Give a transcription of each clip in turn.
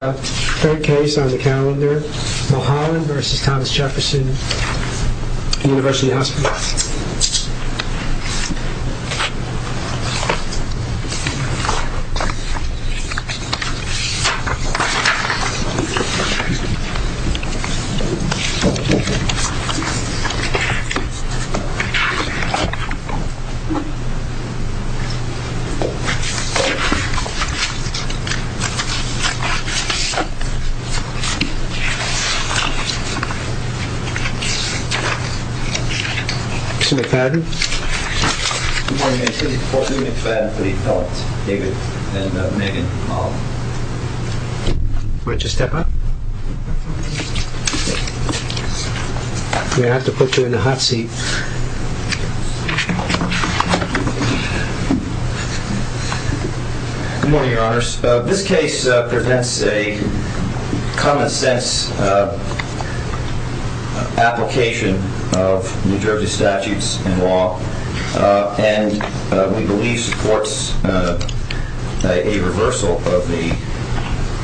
Third case on the calendar, Mulholland versus Thomas Jefferson University Hospital. David McFadden for the appellant, David and Megan Mulholland. Why don't you step up? You're going to have to put her in the hot seat. Good morning, your honors. This case prevents a common sense application of New Jersey statutes and law. And we believe supports a reversal of the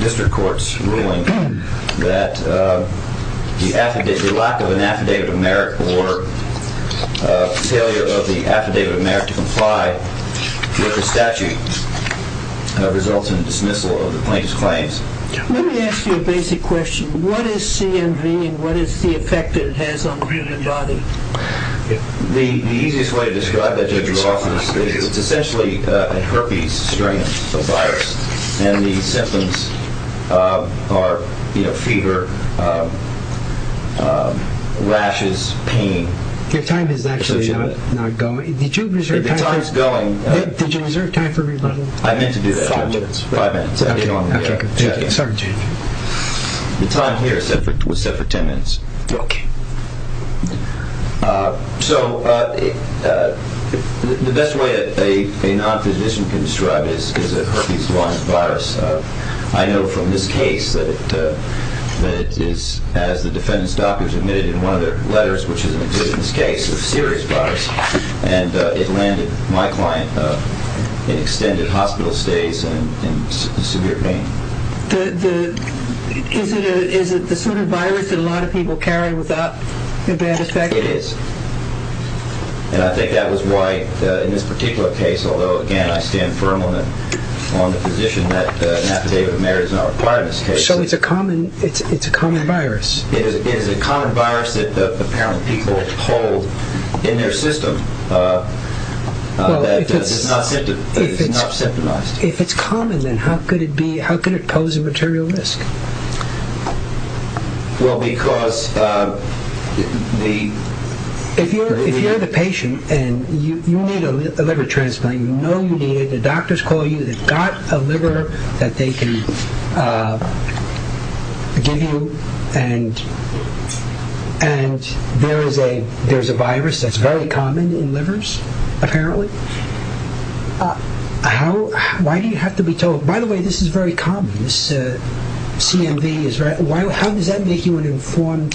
district court's ruling that the lack of an affidavit of merit or failure of the affidavit of merit to comply with the statute results in dismissal of the plaintiff's claims. Let me ask you a basic question. What is CNV and what is the effect it has on the human body? The easiest way to describe it is essentially a herpes strain, a virus. And the symptoms are fever, rashes, pain. Your time is actually not going. Did you reserve time for rebuttal? I meant to do that. Five minutes. The time here was set for ten minutes. Okay. So the best way a nonphysician can describe it is a herpes virus. I know from this case that it is, as the defendant's doctor admitted in one of their letters, which is an existence case, a serious virus. And it landed my client in extended hospital stays and severe pain. Is it the sort of virus that a lot of people carry without a bad effect? It is. And I think that was why in this particular case, although, again, I stand firm on the position that an affidavit of merit is not required in this case. So it's a common virus. It is a common virus that apparently people hold in their system that is not symptomized. If it's common, then how could it pose a material risk? Well, because the... If you're the patient and you need a liver transplant, you know you need it, the doctors call you, they've got a liver that they can give you, and there's a virus that's very common in livers, apparently. Why do you have to be told... By the way, this is very common, this CMV. How does that make you an informed...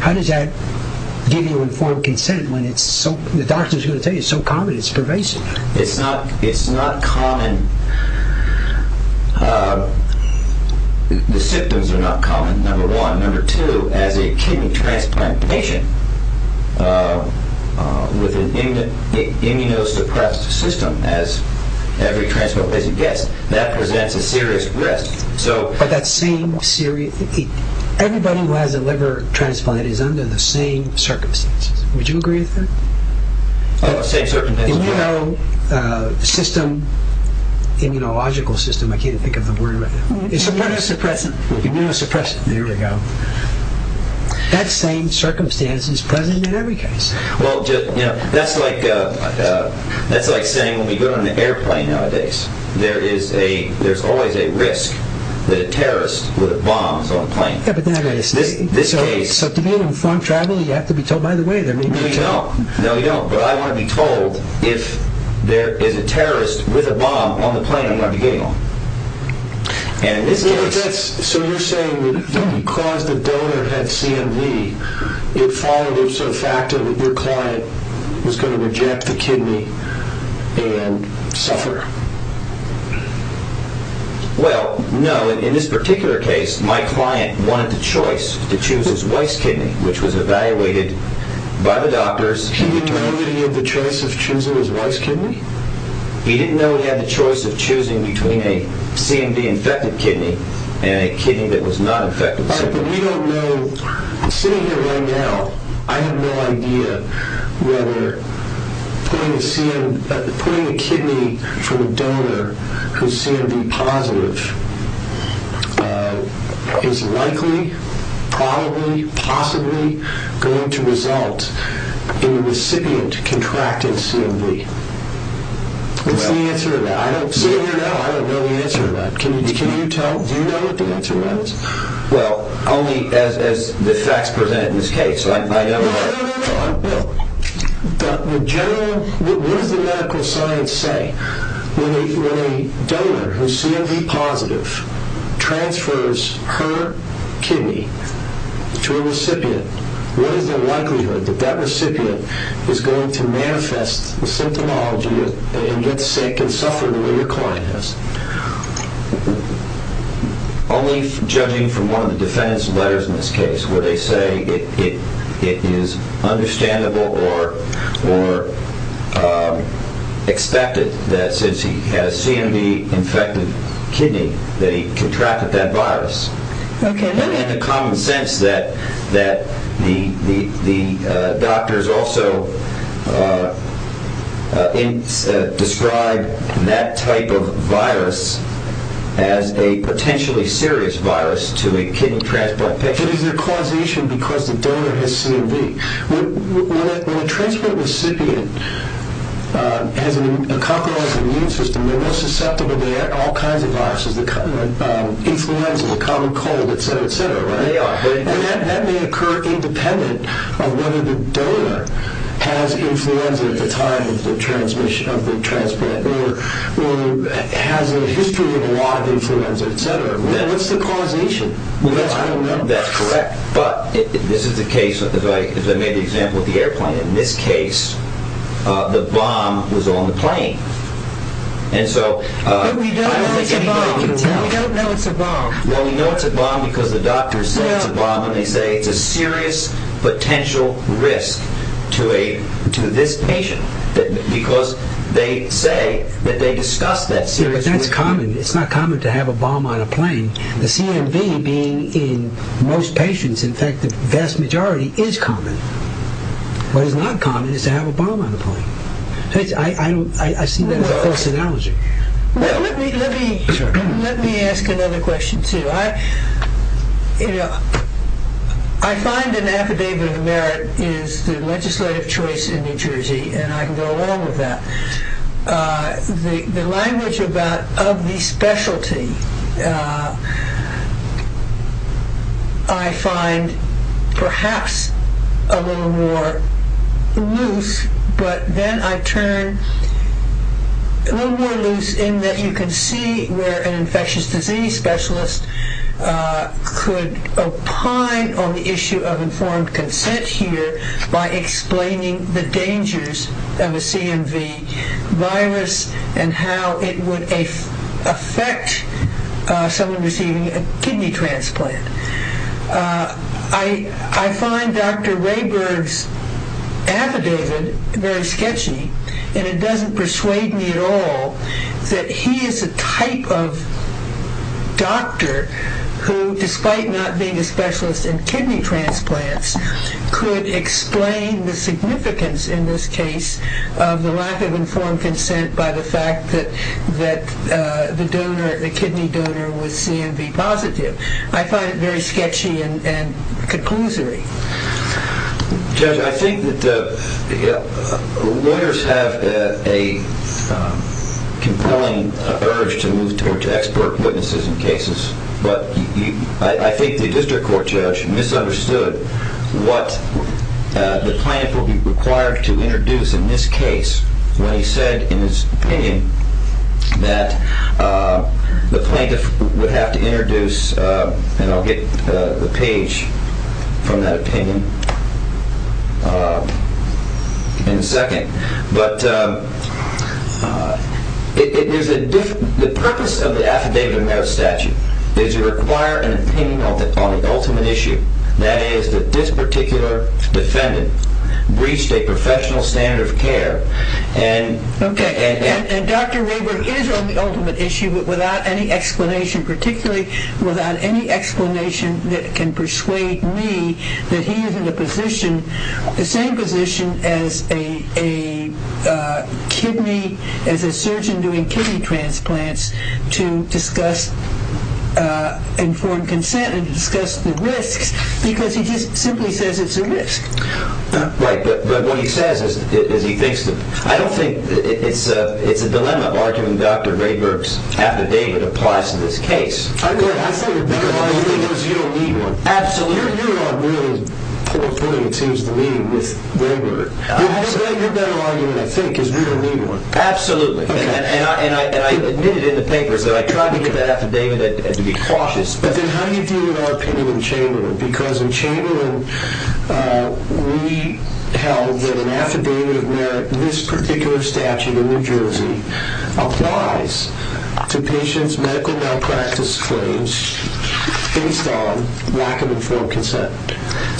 How does that give you informed consent when the doctor's going to tell you it's so common it's pervasive? It's not common. The symptoms are not common, number one. Number two, as a kidney transplant patient with an immunosuppressed system, as every transplant patient gets, that presents a serious risk. But that same serious... Everybody who has a liver transplant is under the same circumstances. Would you agree with that? Oh, same circumstances. Immunosystem, immunological system, I can't even think of the word right now. Immunosuppressant. Immunosuppressant, there we go. That same circumstance is present in every case. Well, that's like saying when we go on an airplane nowadays, there's always a risk that a terrorist with a bomb is on the plane. Yeah, but then again, so to be informed travel, you have to be told, by the way, there may be a terrorist. No, you don't, but I want to be told if there is a terrorist with a bomb on the plane I'm going to be getting on. And in this case... So you're saying that because the donor had CMV, it followed up to the fact that your client was going to reject the kidney and suffer. Well, no, in this particular case, my client wanted the choice to choose his wife's kidney, which was evaluated by the doctors. He didn't know he had the choice of choosing his wife's kidney? He didn't know he had the choice of choosing between a CMV-infected kidney and a kidney that was not infected. But we don't know, sitting here right now, I have no idea whether putting a kidney from a donor who's CMV-positive is likely, probably, possibly going to result in a recipient contracting CMV. What's the answer to that? I don't know the answer to that. Can you tell? Do you know what the answer is? Well, only as the facts present in this case. No, no, no, no. But what does the medical science say? When a donor who's CMV-positive transfers her kidney to a recipient, what is the likelihood that that recipient is going to manifest the symptomology and get sick and suffer the way your client has? Only judging from one of the defendant's letters in this case, where they say it is understandable or expected that since he has a CMV-infected kidney, that he contracted that virus. Okay. Is it common sense that the doctors also describe that type of virus as a potentially serious virus to a kidney transplant patient? Is there causation because the donor has CMV? When a transplant recipient has a compromised immune system, they're more susceptible to all kinds of viruses, influenza, the common cold, et cetera, et cetera, right? They are. And that may occur independent of whether the donor has influenza at the time of the transplant or has a history of a lot of influenza, et cetera. What's the causation? Well, I don't know. That's correct. But this is the case, as I made the example of the airplane. In this case, the bomb was on the plane. And so I don't think anybody can tell. But we don't know it's a bomb. We don't know it's a bomb. Well, we know it's a bomb because the doctors say it's a bomb, and they say it's a serious potential risk to this patient because they say that they discussed that serious risk. Yeah, but that's common. It's not common to have a bomb on a plane. The CMV being in most patients, in fact, the vast majority, is common. What is not common is to have a bomb on a plane. I see that as a false analogy. Let me ask another question, too. I find an affidavit of merit is the legislative choice in New Jersey, and I can go along with that. The language of the specialty I find perhaps a little more loose, but then I turn a little more loose in that you can see where an infectious disease specialist could opine on the issue of informed consent here by explaining the dangers of a CMV virus and how it would affect someone receiving a kidney transplant. I find Dr. Rayburg's affidavit very sketchy, and it doesn't persuade me at all that he is a type of doctor who, despite not being a specialist in kidney transplants, could explain the significance in this case of the lack of informed consent by the fact that the kidney donor was CMV positive. I find it very sketchy and conclusory. Judge, I think that lawyers have a compelling urge to move towards expert witnesses in cases, but I think the district court judge misunderstood what the plaintiff would be required to introduce in this case when he said in his opinion that the plaintiff would have to introduce, and I'll get the page from that opinion in a second, but the purpose of the Affidavit of Merit Statute is to require an opinion on the ultimate issue, that is, that this particular defendant breached a professional standard of care. Okay, and Dr. Rayburg is on the ultimate issue, but without any explanation, particularly without any explanation that can persuade me that he is in the same position as a surgeon doing kidney transplants to discuss informed consent and to discuss the risks, because he just simply says it's a risk. Right, but what he says is he thinks that... I don't think it's a dilemma of arguing Dr. Rayburg's affidavit applies to this case. I say a better argument is you don't need one. Absolutely. You're on really poor footing, it seems to me, with Rayburg. Your better argument, I think, is we don't need one. Absolutely, and I admit it in the papers that I tried to get that affidavit to be cautious. But then how do you deal with our opinion in Chamberlain? Because in Chamberlain, we held that an affidavit of merit, this particular statute in New Jersey, applies to patients' medical malpractice claims based on lack of informed consent.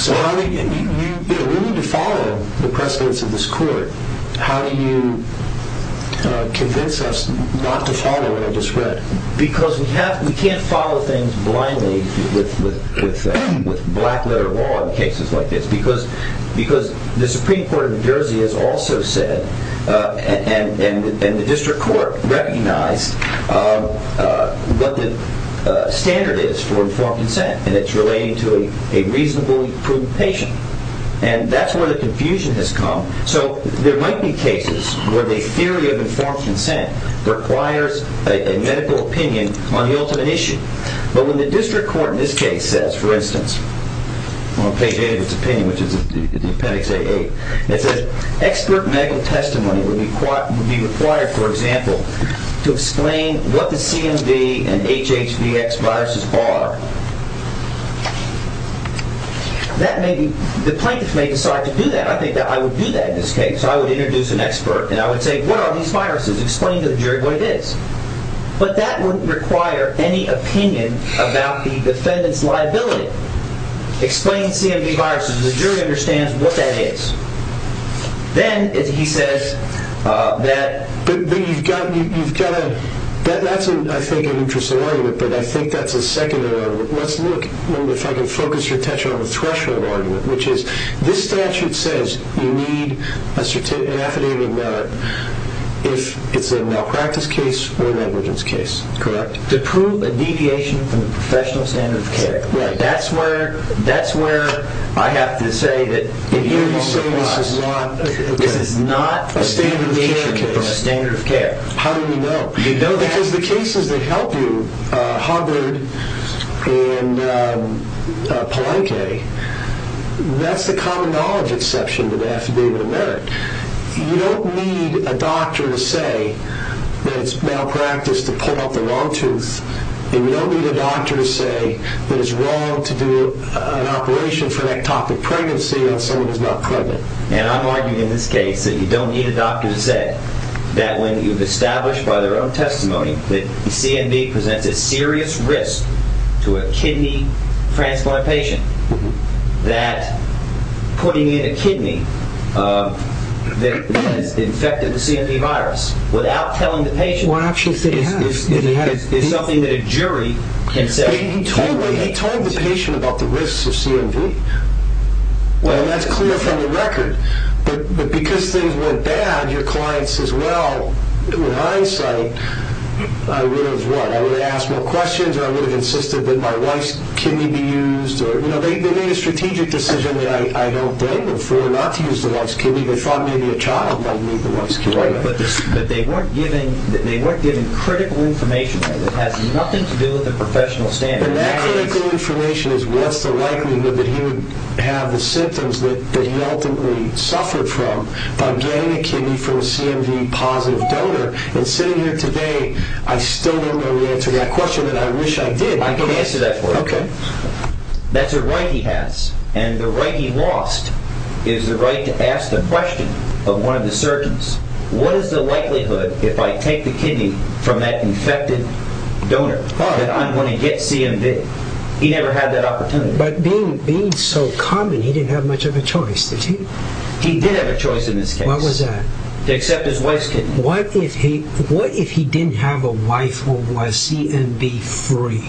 How do you convince us not to follow what I just read? Because we can't follow things blindly with black-letter law in cases like this, because the Supreme Court of New Jersey has also said, and the District Court recognized what the standard is for informed consent, and it's relating to a reasonably proven patient. And that's where the confusion has come. So there might be cases where the theory of informed consent requires a medical opinion on the ultimate issue. But when the District Court in this case says, for instance, on page 8 of its opinion, which is Appendix A-8, it says expert medical testimony would be required, for example, to explain what the CMV and HHVX viruses are, the plaintiffs may decide to do that. I think that I would do that in this case. I would introduce an expert, and I would say, what are these viruses? Explain to the jury what it is. But that wouldn't require any opinion about the defendant's liability. Explain CMV viruses. The jury understands what that is. Then he says that you've got to, that's, I think, an interesting argument, but I think that's a secondary argument. Let's look, if I can focus your attention on the threshold argument, which is this statute says you need an affidavit of merit if it's a malpractice case or an emergence case, correct? To prove a deviation from the professional standard of care. Right. That's where I have to say that it involves a bias. You're saying this is not a deviation from a standard of care. How do we know? Because the cases that help you, Hubbard and Palenque, that's the common knowledge exception to the affidavit of merit. You don't need a doctor to say that it's malpractice to pull out the wrong tooth, and you don't need a doctor to say that it's wrong to do an operation for an ectopic pregnancy on someone who's not pregnant. And I'm arguing in this case that you don't need a doctor to say that when you've established by their own testimony that CMV presents a serious risk to a kidney transplant patient that putting in a kidney that has infected the CMV virus without telling the patient is something that a jury can say. He told the patient about the risks of CMV. Well, that's clear from the record. But because things went bad, your client says, Well, in hindsight, I would have asked more questions or I would have insisted that my wife's kidney be used. They made a strategic decision that I don't blame them for not to use the wife's kidney. They thought maybe a child might need the wife's kidney. But they weren't giving critical information. It has nothing to do with a professional standard. That critical information is what's the likelihood that he would have the symptoms that he ultimately suffered from by getting a kidney from a CMV-positive donor? And sitting here today, I still don't know the answer to that question that I wish I did. I can answer that for you. That's a right he has. And the right he lost is the right to ask the question of one of the surgeons, What is the likelihood if I take the kidney from that infected donor that I'm going to get CMV? He never had that opportunity. But being so common, he didn't have much of a choice, did he? He did have a choice in this case. What was that? To accept his wife's kidney. What if he didn't have a wife who was CMV-free?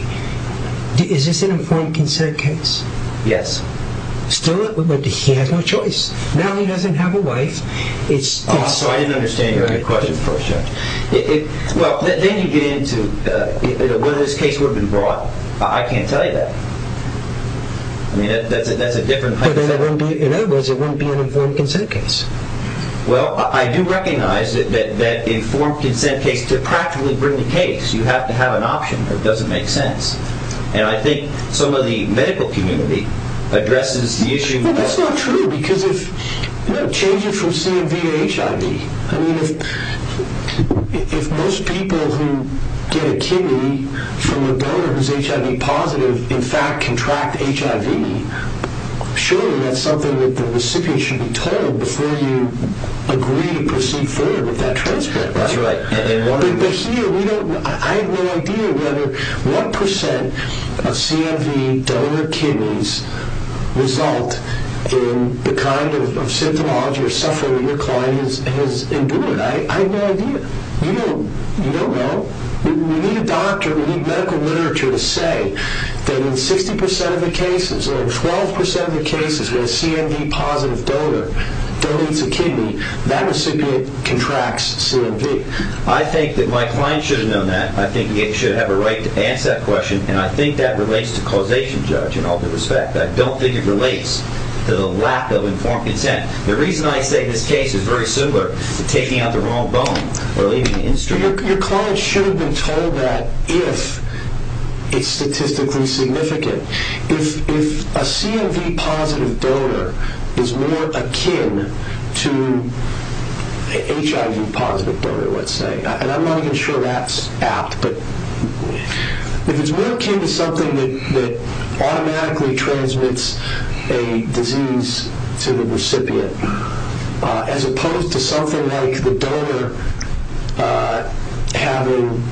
Is this an informed consent case? Yes. Still, he had no choice. Now he doesn't have a wife. So I didn't understand your question first, Judge. Well, then you get into whether this case would have been brought. I can't tell you that. I mean, that's a different type of question. In other words, it wouldn't be an informed consent case. Well, I do recognize that an informed consent case, to practically bring the case, you have to have an option. It doesn't make sense. And I think some of the medical community addresses the issue. Well, that's not true because if, you know, changing from CMV to HIV, I mean, if most people who get a kidney from a donor who's HIV-positive in fact contract HIV, surely that's something that the recipient should be told before you agree to proceed further with that transplant. That's right. But here, I have no idea whether 1% of CMV donor kidneys result in the kind of symptomology or suffering that your client has endured. I have no idea. You don't know. We need a doctor, we need medical literature to say that in 60% of the cases or 12% of the cases where a CMV-positive donor donates a kidney, that recipient contracts CMV. I think that my client should have known that. I think he should have a right to answer that question, and I think that relates to causation, Judge, in all due respect. I don't think it relates to the lack of informed consent. The reason I say this case is very similar to taking out the wrong bone or leaving the industry. Your client should have been told that if it's statistically significant. If a CMV-positive donor is more akin to an HIV-positive donor, let's say, and I'm not even sure that's apt, but if it's more akin to something that automatically transmits a disease to the recipient as opposed to something like the donor having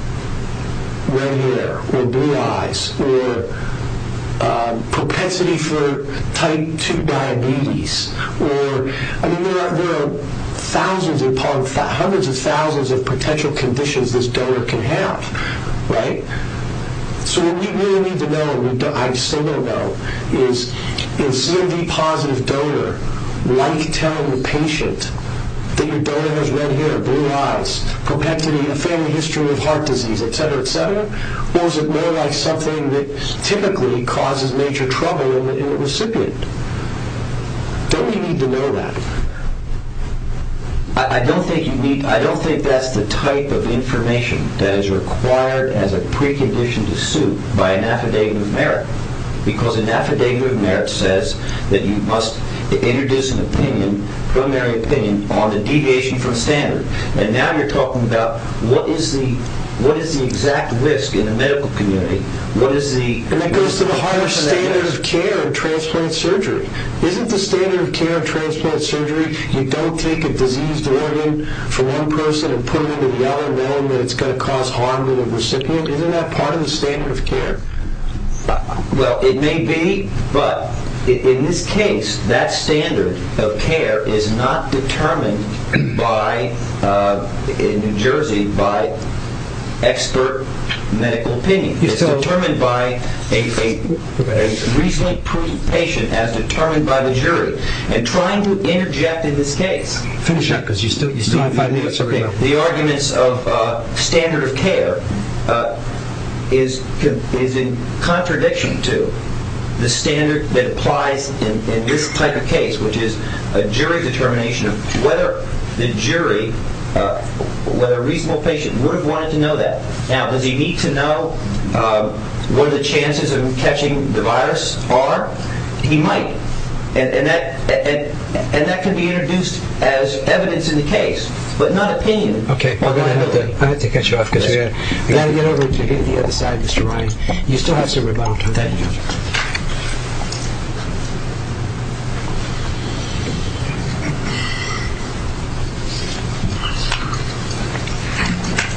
red hair or blue eyes or propensity for type 2 diabetes. I mean, there are hundreds of thousands of potential conditions this donor can have, right? So what we really need to know, and I still don't know, is a CMV-positive donor like telling the patient that your donor has red hair, blue eyes, propensity, a family history of heart disease, et cetera, et cetera, or is it more like something that typically causes major trouble in the recipient? Don't we need to know that? I don't think that's the type of information that is required as a precondition to suit by an affidavit of merit because an affidavit of merit says that you must introduce an opinion, preliminary opinion, on the deviation from standard. And now you're talking about what is the exact risk in the medical community? And that goes to the higher standard of care in transplant surgery. Isn't the standard of care in transplant surgery you don't take a diseased organ for one person and put it in another one and it's going to cause harm to the recipient? Isn't that part of the standard of care? Well, it may be, but in this case that standard of care is not determined in New Jersey by expert medical opinion. It's determined by a reasonably proven patient as determined by the jury. And trying to interject in this case Finish up because you still have five minutes. The arguments of standard of care is in contradiction to the standard that applies in this type of case, which is a jury determination of whether the jury, whether a reasonable patient would have wanted to know that. Now, does he need to know what the chances of him catching the virus are? He might. And that can be introduced as evidence in the case, but not opinion. Okay, I'm going to have to cut you off. You've got to get over to the other side, Mr. Ryan. You still have some rebuttal time. Thank you.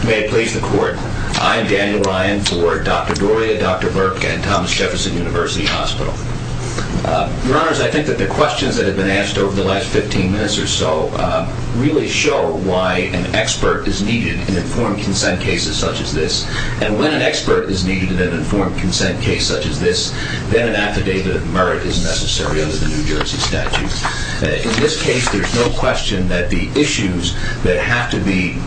May it please the court, I am Daniel Ryan for Dr. Doria, Dr. Burke, and Thomas Jefferson University Hospital. Your Honors, I think that the questions that have been asked over the last 15 minutes or so really show why an expert is needed in informed consent cases such as this. And when an expert is needed in an informed consent case such as this, then an affidavit of merit is necessary under the New Jersey statute. In this case, there's no question that the issues that have to be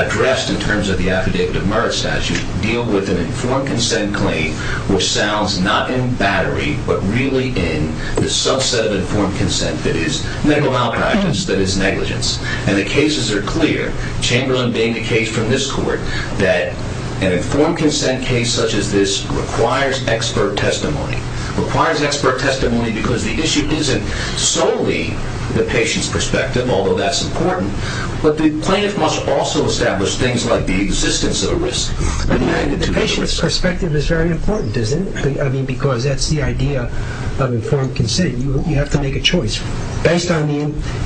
addressed in terms of the affidavit of merit statute deal with an informed consent claim which sounds not in battery, but really in the subset of informed consent that is medical malpractice, that is negligence. And the cases are clear, Chamberlain being the case from this court, that an informed consent case such as this requires expert testimony. It requires expert testimony because the issue isn't solely the patient's perspective, although that's important, but the plaintiff must also establish things like the existence of a risk. The patient's perspective is very important, isn't it? I mean, because that's the idea of informed consent. You have to make a choice. Based on the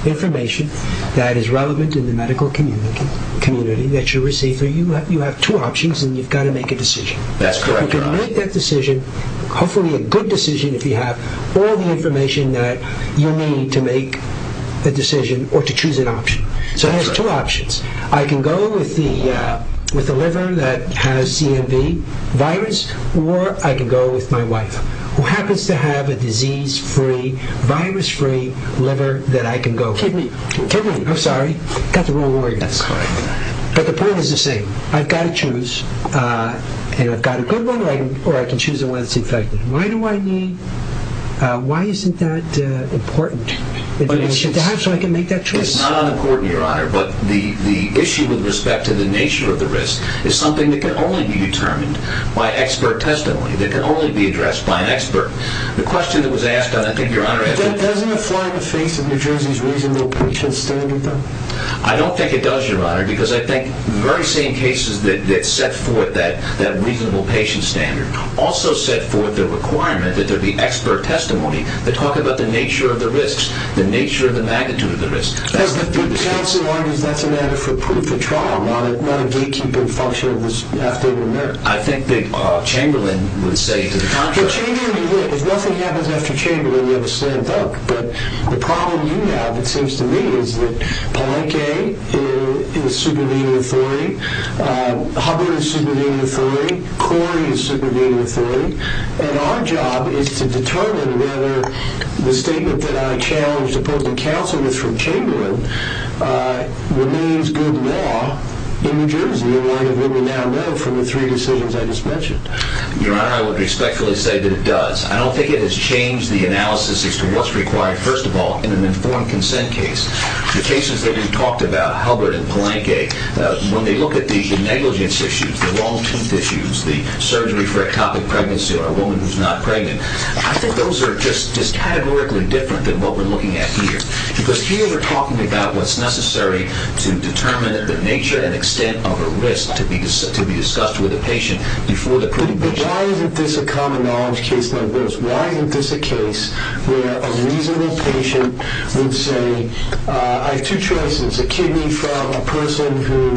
information that is relevant in the medical community that you receive, you have two options and you've got to make a decision. That's correct. You can make that decision, hopefully a good decision if you have all the information that you need to make a decision or to choose an option. So it has two options. I can go with the liver that has CMV virus or I can go with my wife who happens to have a disease-free, virus-free liver that I can go with. Kidney. Kidney, I'm sorry. Got the wrong organ. That's correct. But the point is the same. I've got to choose, and I've got a good one or I can choose the one that's infected. Why do I need, why isn't that important? It's not important, Your Honor, but the issue with respect to the nature of the risk is something that can only be determined by expert testimony, that can only be addressed by an expert. The question that was asked, and I think Your Honor asked it. Doesn't it fly in the face of New Jersey's reasonable patient standard, though? I don't think it does, Your Honor, because I think the very same cases that set forth that reasonable patient standard also set forth the requirement that there be expert testimony that talk about the nature of the risks, the nature of the magnitude of the risks. But the counsel argues that's a matter for proof, a trial, not a gatekeeping function of this affidavit of merit. I think that Chamberlain would say to the contrary. If nothing happens after Chamberlain, we have a slam dunk. But the problem you have, it seems to me, is that Palenque is subordinate authority, Hubbard is subordinate authority, Corey is subordinate authority, and our job is to determine whether the statement that I challenged that I was supposed to counsel with from Chamberlain remains good law in New Jersey in light of what we now know from the three decisions I just mentioned. Your Honor, I would respectfully say that it does. I don't think it has changed the analysis as to what's required, first of all, in an informed consent case. The cases that we've talked about, Hubbard and Palenque, when they look at the negligence issues, the long tooth issues, the surgery for ectopic pregnancy on a woman who's not pregnant, I think those are just categorically different than what we're looking at here. Because here we're talking about what's necessary to determine the nature and extent of a risk to be discussed with a patient before the pregnancy trial. But why isn't this a common knowledge case like this? Why isn't this a case where a reasonable patient would say, I have two choices, a kidney from a person who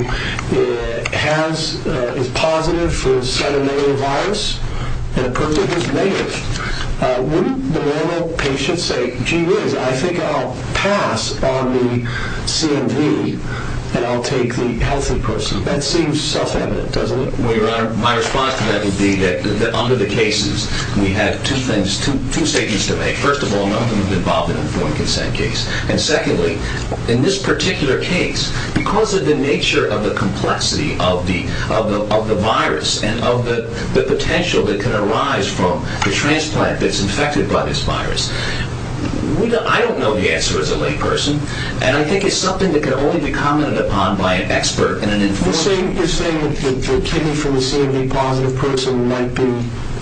is positive for selenium virus and a person who's negative. Wouldn't the normal patient say, gee whiz, I think I'll pass on the CMV and I'll take the healthy person. That seems self-evident, doesn't it? Well, Your Honor, my response to that would be that under the cases, we had two things, two statements to make. First of all, none of them have been involved in an informed consent case. of the virus and of the potential that can arise from the transplant that's infected by this virus. I don't know the answer as a lay person, and I think it's something that can only be commented upon by an expert in an informed case. You're saying that the kidney from the CMV-positive person might be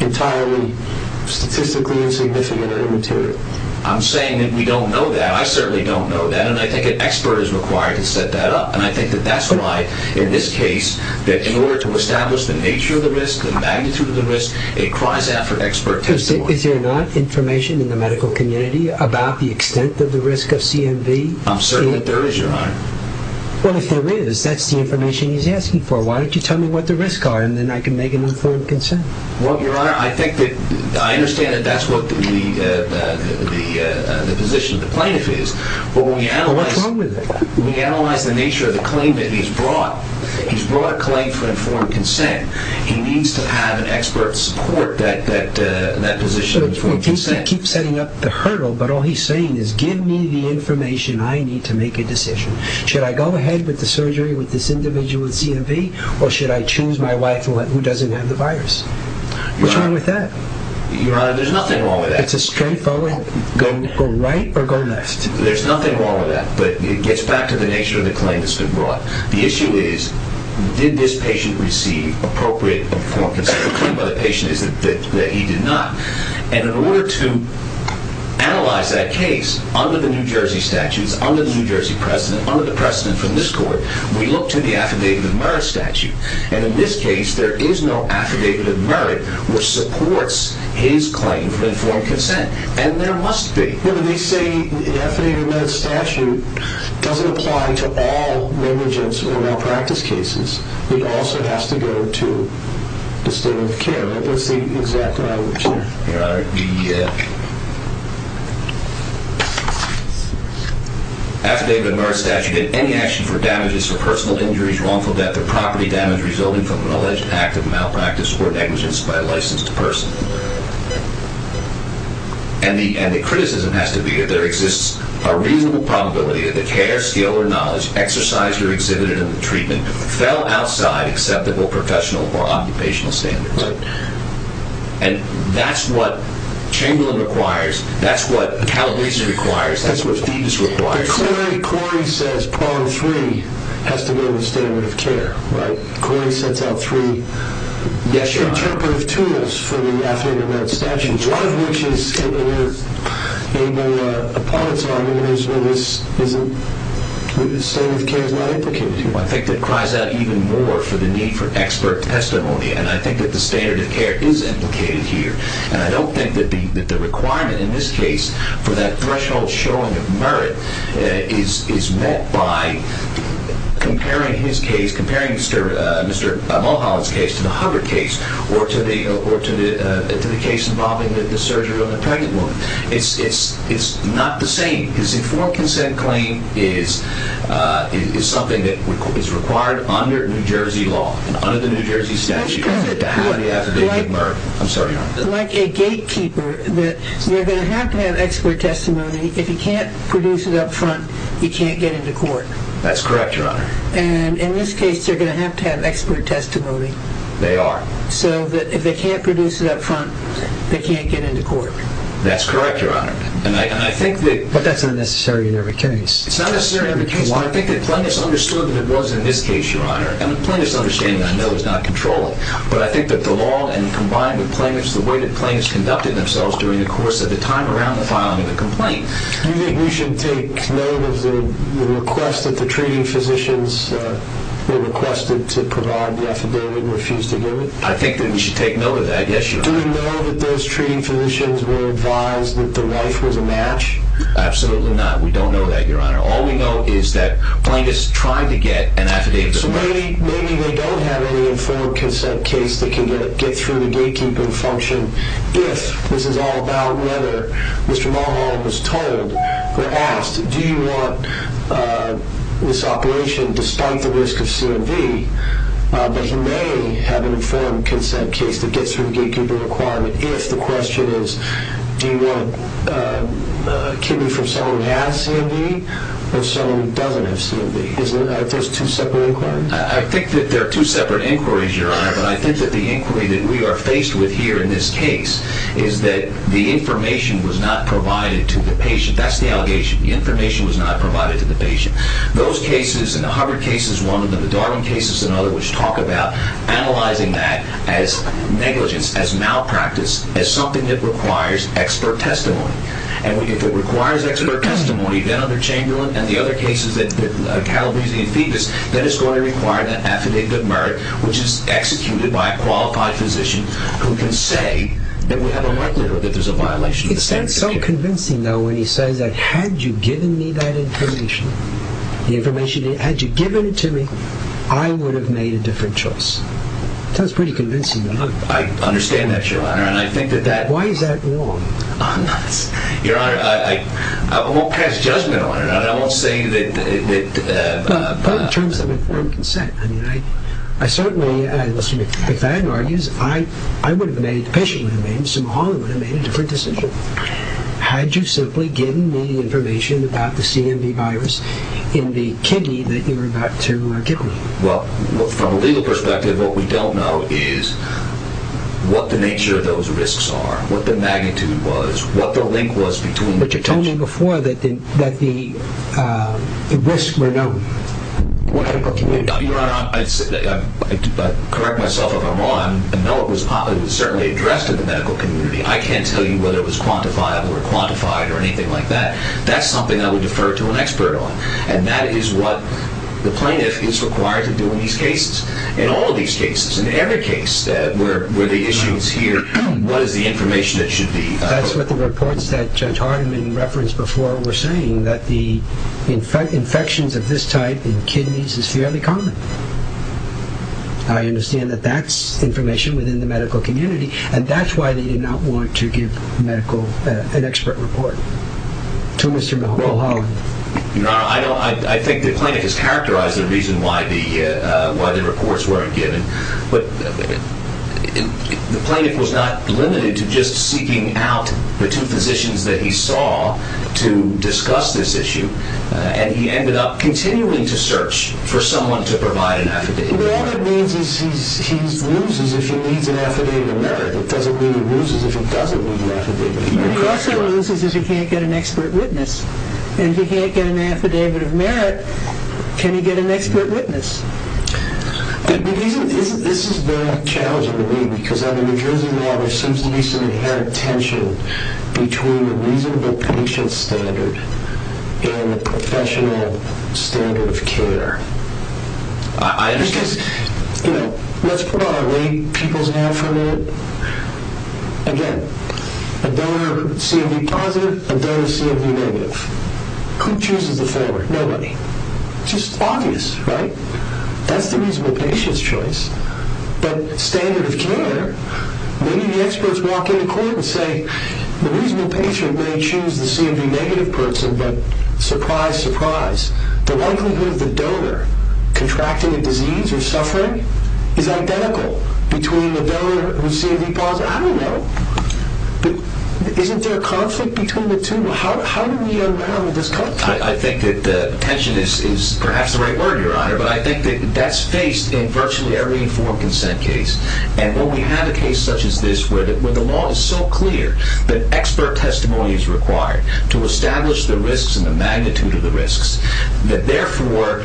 entirely statistically insignificant or immaterial. I'm saying that we don't know that. I certainly don't know that, and I think an expert is required to set that up. And I think that that's why, in this case, that in order to establish the nature of the risk, the magnitude of the risk, it cries out for expert testimony. Is there not information in the medical community about the extent of the risk of CMV? I'm certain that there is, Your Honor. Well, if there is, that's the information he's asking for. Why don't you tell me what the risks are, and then I can make an informed consent. Well, Your Honor, I think that I understand that that's what the position of the plaintiff is. Well, what's wrong with that? We analyze the nature of the claim that he's brought. He's brought a claim for informed consent. He needs to have an expert support that position. He keeps setting up the hurdle, but all he's saying is, give me the information I need to make a decision. Should I go ahead with the surgery with this individual with CMV, or should I choose my wife who doesn't have the virus? What's wrong with that? Your Honor, there's nothing wrong with that. It's a straightforward go right or go left. There's nothing wrong with that, but it gets back to the nature of the claim that's been brought. The issue is, did this patient receive appropriate informed consent? The claim by the patient is that he did not. And in order to analyze that case under the New Jersey statutes, under the New Jersey precedent, under the precedent from this court, we look to the Affidavit of Merit statute. And in this case, there is no Affidavit of Merit which supports his claim for informed consent. And there must be. No, but they say the Affidavit of Merit statute doesn't apply to all negligence or malpractice cases. It also has to go to the state of care. That's the exact language there. Your Honor, the Affidavit of Merit statute did any action for damages for personal injuries, wrongful death, or property damage resulting from an alleged act of malpractice or negligence by a licensed person. And the criticism has to be that there exists a reasonable probability that the care, skill, or knowledge exercised or exhibited in the treatment fell outside acceptable professional or occupational standards. And that's what Chamberlain requires. That's what Calabese requires. That's what Phoebus requires. But clearly, Corey says Part 3 has to go to the standard of care, right? Corey sets out three interpretive tools for the Affidavit of Merit statute, one of which is able upon its argument is that the standard of care is not implicated here. Well, I think that cries out even more for the need for expert testimony. And I think that the standard of care is implicated here. And I don't think that the requirement in this case for that threshold showing of merit is met by comparing his case, comparing Mr. Mulholland's case to the Hubbard case or to the case involving the surgery on the pregnant woman. It's not the same. His informed consent claim is something that is required under New Jersey law, under the New Jersey statute. Like a gatekeeper, you're going to have to have expert testimony. If you can't produce it up front, you can't get into court. That's correct, Your Honor. And in this case, you're going to have to have expert testimony. They are. So that if they can't produce it up front, they can't get into court. That's correct, Your Honor. But that's not necessary in every case. It's not necessary in every case, but I think that Plintus understood what it was in this case, Your Honor. And the Plintus understanding, I know, is not controlling. But I think that the law and combined with Plintus, the way that Plintus conducted themselves during the course of the time around the filing of the complaint. Do you think we should take note of the request that the treating physicians were requested to provide the affidavit and refused to give it? I think that we should take note of that, yes, Your Honor. Do we know that those treating physicians were advised that the wife was a match? Absolutely not. We don't know that, Your Honor. All we know is that Plintus tried to get an affidavit. So maybe they don't have any informed consent case that can get through the gatekeeping function, if this is all about whether Mr. Mulholland was told or asked, do you want this operation despite the risk of CMV? But he may have an informed consent case that gets through the gatekeeping requirement if the question is, do you want a kidney from someone who has CMV or someone who doesn't have CMV? Is there two separate inquiries? I think that there are two separate inquiries, Your Honor, but I think that the inquiry that we are faced with here in this case is that the information was not provided to the patient. That's the allegation. The information was not provided to the patient. Those cases and the Hubbard case is one of them, the Darwin case is another, which talk about analyzing that as negligence, as malpractice, as something that requires expert testimony. And if it requires expert testimony, then under Chamberlain and the other cases that Calabrese and Phoebus, then it's going to require an affidavit of merit, which is executed by a qualified physician, who can say that we have a right to know that there's a violation of the standards of care. It sounds so convincing, though, when he says that had you given me that information, the information, had you given it to me, I would have made a different choice. Sounds pretty convincing to me. I understand that, Your Honor, and I think that that... Why is that wrong? Your Honor, I won't pass judgment on it. I won't say that... But in terms of informed consent. I mean, I certainly, as Mr. McFadden argues, I would have made, the patient would have made, Mr. Mulholland would have made a different decision had you simply given me information about the CMV virus in the kidney that you were about to give me. Well, from a legal perspective, what we don't know is what the nature of those risks are, what the magnitude was, what the link was between... But you told me before that the risks were known in the medical community. Your Honor, I correct myself if I'm wrong. I know it was certainly addressed in the medical community. I can't tell you whether it was quantifiable or quantified or anything like that. That's something I would defer to an expert on, and that is what the plaintiff is required to do in these cases. In all of these cases, in every case where the issue is here, what is the information that should be... That's what the reports that Judge Hardiman referenced before were saying, that the infections of this type in kidneys is fairly common. I understand that that's information within the medical community, and that's why they did not want to give medical, an expert report to Mr. Mulholland. Your Honor, I think the plaintiff has characterized the reason why the reports weren't given. But the plaintiff was not limited to just seeking out the two physicians that he saw to discuss this issue, and he ended up continuing to search for someone to provide an affidavit of merit. All it means is he loses if he needs an affidavit of merit. It doesn't mean he loses if he doesn't need an affidavit of merit. He also loses if he can't get an expert witness, and if he can't get an affidavit of merit, can he get an expert witness? This is very challenging to me, because under New Jersey law, there seems to be some inherent tension between the reasonable patient standard and the professional standard of care. I understand. Let's put on our lay people's hat for a minute. Again, a donor CMV positive, a donor CMV negative. Who chooses the former? Nobody. It's just obvious, right? That's the reasonable patient's choice. But standard of care, many of the experts walk into court and say, the reasonable patient may choose the CMV negative person, but surprise, surprise, the likelihood of the donor contracting a disease or suffering is identical between the donor who's CMV positive. I don't know. Isn't there a conflict between the two? How do we unravel this conflict? I think that tension is perhaps the right word, Your Honor, but I think that that's faced in virtually every informed consent case. And when we have a case such as this, where the law is so clear that expert testimony is required to establish the risks and the magnitude of the risks, that therefore,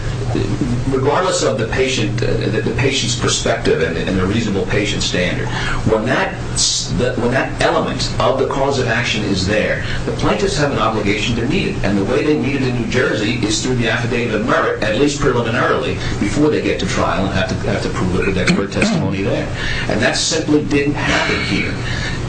regardless of the patient's perspective and the reasonable patient standard, when that element of the cause of action is there, the plaintiffs have an obligation to meet it. And the way they meet it in New Jersey is through the affidavit of merit, at least preliminarily, before they get to trial and have to prove it with expert testimony there. And that simply didn't happen here.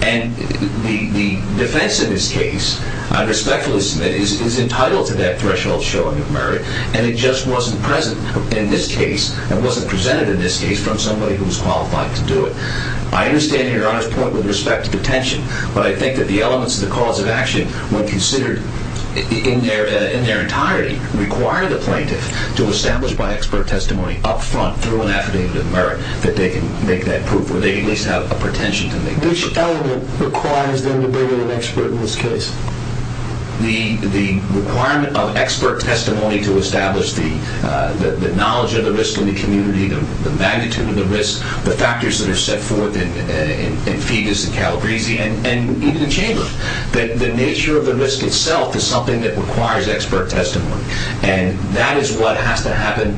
And the defense in this case, I respectfully submit, is entitled to that threshold showing of merit, and it just wasn't present in this case and wasn't presented in this case from somebody who was qualified to do it. I understand Your Honor's point with respect to the tension, but I think that the elements of the cause of action, when considered in their entirety, require the plaintiff to establish by expert testimony up front, through an affidavit of merit, that they can make that proof, or they can at least have a pretension to make that proof. Which element requires them to bring in an expert in this case? The requirement of expert testimony to establish the knowledge of the risks in the community, the magnitude of the risks, the factors that are set forth in Fegus and Calabresi and even in Chamberlain. The nature of the risk itself is something that requires expert testimony, and that is what has to happen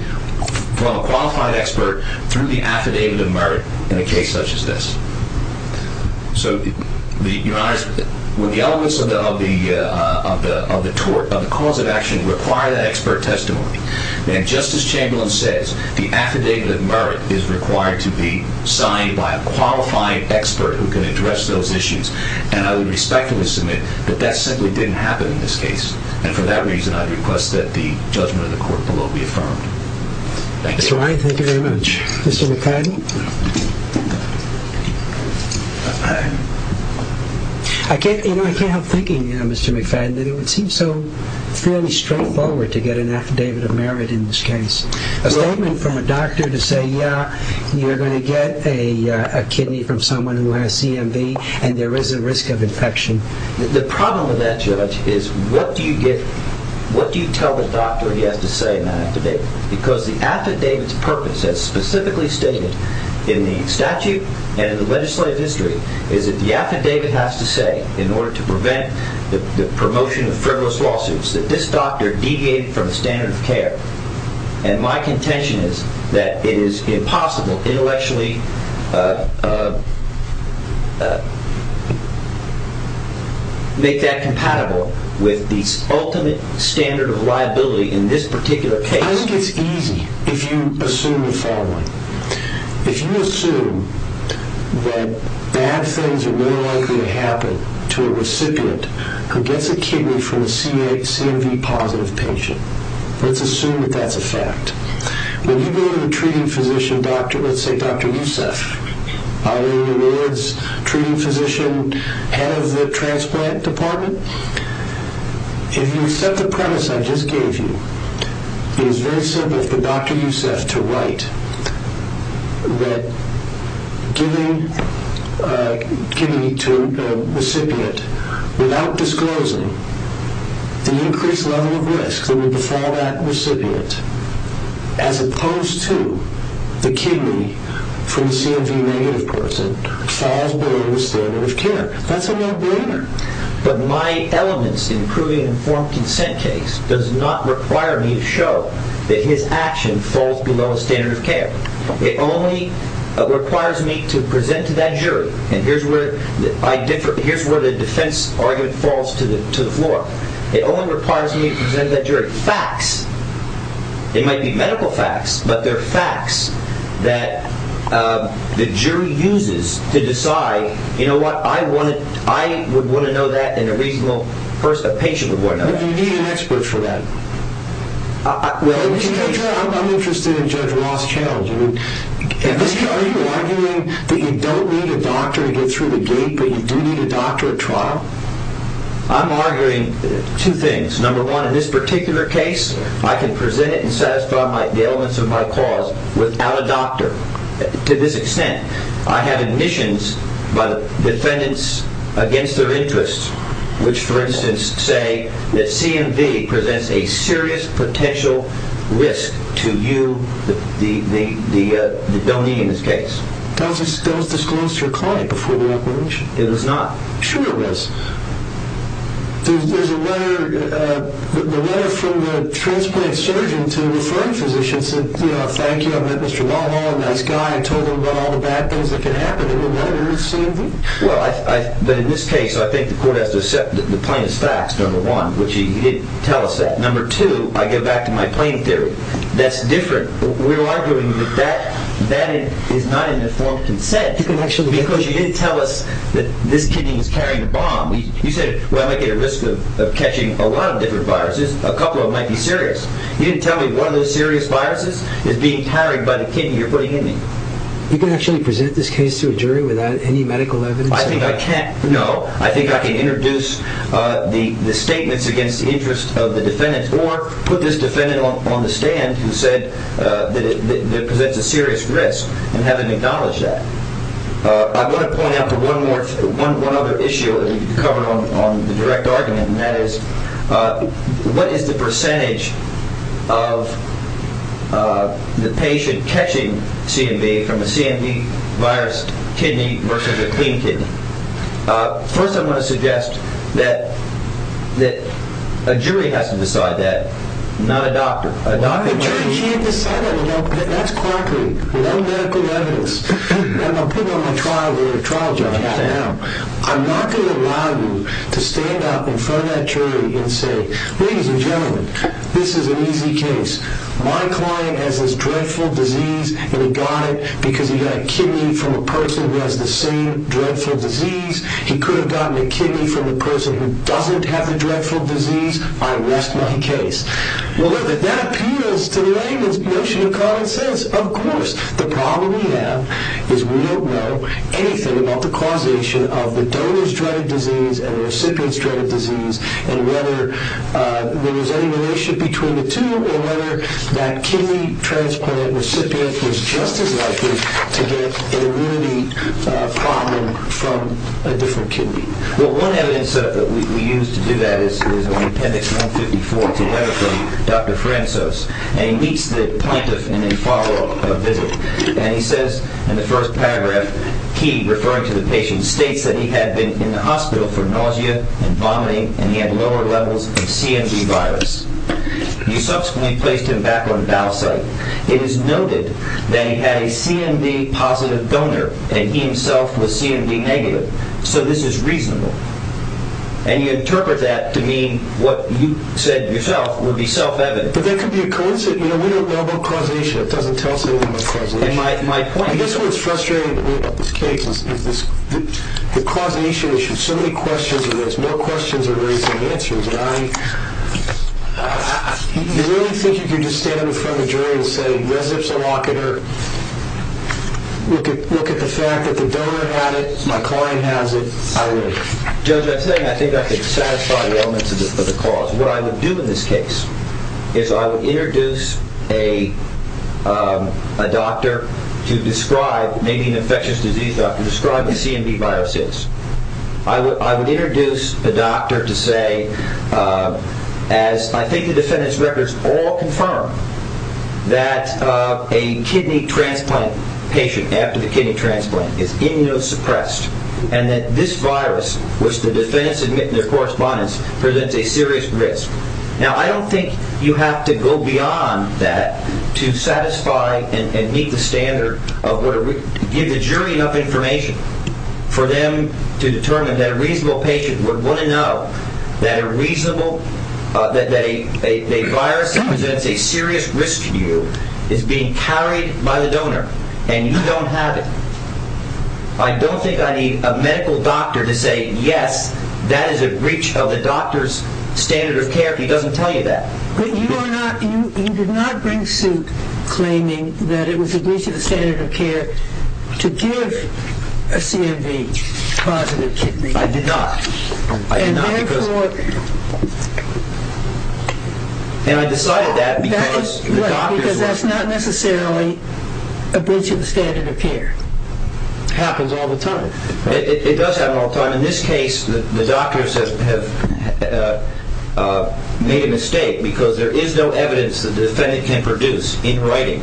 from a qualified expert through the affidavit of merit in a case such as this. So Your Honor, when the elements of the cause of action require that expert testimony, then, just as Chamberlain says, the affidavit of merit is required to be signed by a qualified expert who can address those issues. And I would respectfully submit that that simply didn't happen in this case. And for that reason, I request that the judgment of the court below be affirmed. Thank you. Mr. Ryan, thank you very much. Mr. McFadden? I can't help thinking, Mr. McFadden, that it would seem so fairly straightforward to get an affidavit of merit in this case. A statement from a doctor to say, yeah, you're going to get a kidney from someone who has CMV and there is a risk of infection. The problem with that, Judge, is what do you tell the doctor he has to say in that affidavit? Because the affidavit's purpose, as specifically stated in the statute and in the legislative history, is that the affidavit has to say, in order to prevent the promotion of frivolous lawsuits, that this doctor deviated from the standard of care. And my contention is that it is impossible intellectually to make that compatible with the ultimate standard of liability in this particular case. I think it's easy if you assume the following. If you assume that bad things are more likely to happen to a recipient who gets a kidney from a CMV-positive patient, let's assume that that's a fact. When you go to the treating physician doctor, let's say Dr. Youssef, either he is a treating physician, head of the transplant department, if you accept the premise I just gave you, it is very simple for Dr. Youssef to write that giving to a recipient, without disclosing the increased level of risk that would befall that recipient, as opposed to the kidney from a CMV-negative person, falls below the standard of care. That's a no-brainer. But my elements in proving an informed consent case does not require me to show that his action falls below the standard of care. It only requires me to present to that jury. And here's where the defense argument falls to the floor. It only requires me to present to that jury facts. It might be medical facts, but they're facts that the jury uses to decide, you know what, I would want to know that and a reasonable patient would want to know that. But you need an expert for that. I'm interested in Judge Roth's challenge. Are you arguing that you don't need a doctor to get through the gate, but you do need a doctor at trial? I'm arguing two things. Number one, in this particular case, I can present it and satisfy the elements of my cause without a doctor to this extent. I have admissions by defendants against their interests, which, for instance, say that CMV presents a serious potential risk to you, the donee, in this case. Does this disclose your client before the acquisition? It does not. Sure it does. There's a letter from the transplant surgeon to referring physicians that, you know, I want to thank you. I met Mr. Mulhall, a nice guy. I told him about all the bad things that could happen. It was letters, CMV. Well, but in this case, I think the court has to accept the plaintiff's facts, number one, which he didn't tell us that. Number two, I go back to my plain theory. That's different. We're arguing that that is not an informed consent because you didn't tell us that this kidney was carrying a bomb. You said, well, I might get a risk of catching a lot of different viruses. A couple of them might be serious. You didn't tell me one of those serious viruses is being carried by the kidney you're putting in me. You can actually present this case to a jury without any medical evidence? I think I can't, no. I think I can introduce the statements against the interest of the defendants or put this defendant on the stand who said that it presents a serious risk and have him acknowledge that. I want to point out one other issue that we covered on the direct argument, and that is what is the percentage of the patient catching CMV from a CMV virus kidney versus a clean kidney? First, I want to suggest that a jury has to decide that, not a doctor. A jury can't decide that. That's quirky. No medical evidence. I'm going to put it on my trial jury. I'm not going to allow you to stand up in front of that jury and say, ladies and gentlemen, this is an easy case. My client has this dreadful disease, and he got it because he got a kidney from a person who has the same dreadful disease. He could have gotten a kidney from a person who doesn't have the dreadful disease. I rest my case. That appeals to the layman's notion of common sense, of course. The problem we have is we don't know anything about the causation of the donor's dreadful disease and the recipient's dreadful disease and whether there was any relationship between the two or whether that kidney transplant recipient was just as likely to get an immunity problem from a different kidney. Well, one evidence set up that we used to do that is in appendix 154, and he meets the plaintiff in a follow-up visit, and he says in the first paragraph, he, referring to the patient, states that he had been in the hospital for nausea and vomiting and he had lower levels of CMD virus. You subsequently placed him back on a dial site. It is noted that he had a CMD positive donor and he himself was CMD negative, so this is reasonable. And you interpret that to mean what you said yourself would be self-evident. But that could be a coincidence. You know, we don't know about causation. It doesn't tell us anything about causation. I guess what's frustrating about this case is the causation issue. So many questions and there's no questions or very few answers, and I really think you can just stand in front of a jury and say, look at the fact that the donor had it, my client has it. I would. Judge, I think I could satisfy the elements of the cause. What I would do in this case is I would introduce a doctor to describe, maybe an infectious disease doctor, describe what CMD virus is. I would introduce a doctor to say, as I think the defendant's records all confirm, that a kidney transplant patient after the kidney transplant is immunosuppressed and that this virus, which the defendants admit in their correspondence, presents a serious risk. Now, I don't think you have to go beyond that to satisfy and meet the standard of give the jury enough information for them to determine that a reasonable patient would want to know that a virus that presents a serious risk to you is being carried by the donor and you don't have it. I don't think I need a medical doctor to say yes, that is a breach of the doctor's standard of care if he doesn't tell you that. But you did not bring suit claiming that it was a breach of the standard of care to give a CMD positive kidney. I did not. And therefore... And I decided that because the doctors... Right, because that's not necessarily a breach of the standard of care. It happens all the time. It does happen all the time. In this case, the doctors have made a mistake because there is no evidence that the defendant can produce in writing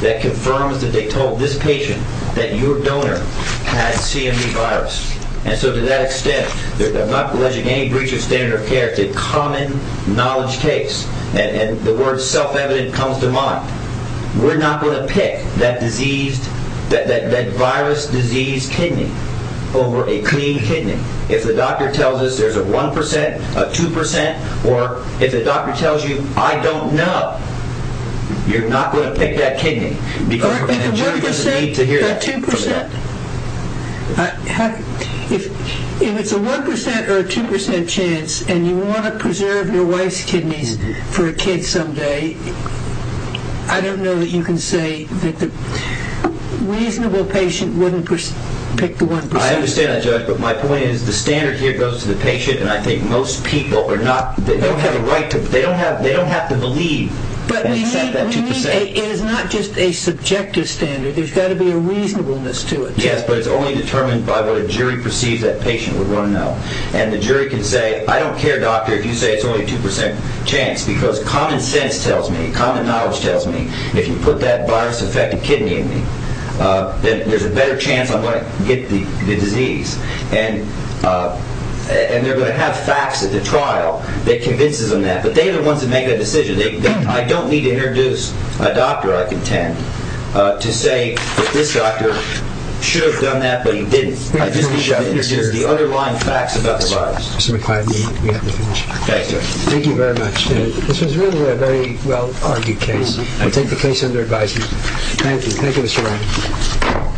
that confirms that they told this patient that your donor had CMD virus. And so to that extent, I'm not alleging any breach of standard of care. It's a common knowledge case. And the word self-evident comes to mind. We're not going to pick that virus-diseased kidney over a clean kidney. If the doctor tells us there's a 1%, a 2%, or if the doctor tells you I don't know, you're not going to pick that kidney. If it's a 1% or a 2% chance, and you want to preserve your wife's kidneys for a kid someday, I don't know that you can say that the reasonable patient wouldn't pick the 1%. I understand that, Judge. But my point is the standard here goes to the patient, and I think most people are not... They don't have a right to... They don't have to believe and accept that 2%. It is not just a subjective standard. There's got to be a reasonableness to it. Yes, but it's only determined by what a jury perceives that patient would want to know. And the jury can say, I don't care, doctor, if you say it's only a 2% chance because common sense tells me, common knowledge tells me if you put that virus-affected kidney in me, then there's a better chance I'm going to get the disease. And they're going to have facts at the trial that convinces them that. But they're the ones that make that decision. I don't need to introduce a doctor, I contend, to say that this doctor should have done that but he didn't. I just need to introduce the underlying facts about the virus. Mr. McLeod, we have to finish. Thank you. Thank you very much. This was really a very well-argued case. I take the case under advisement. Thank you. Thank you, Mr. Wright. Thank you. Thank you.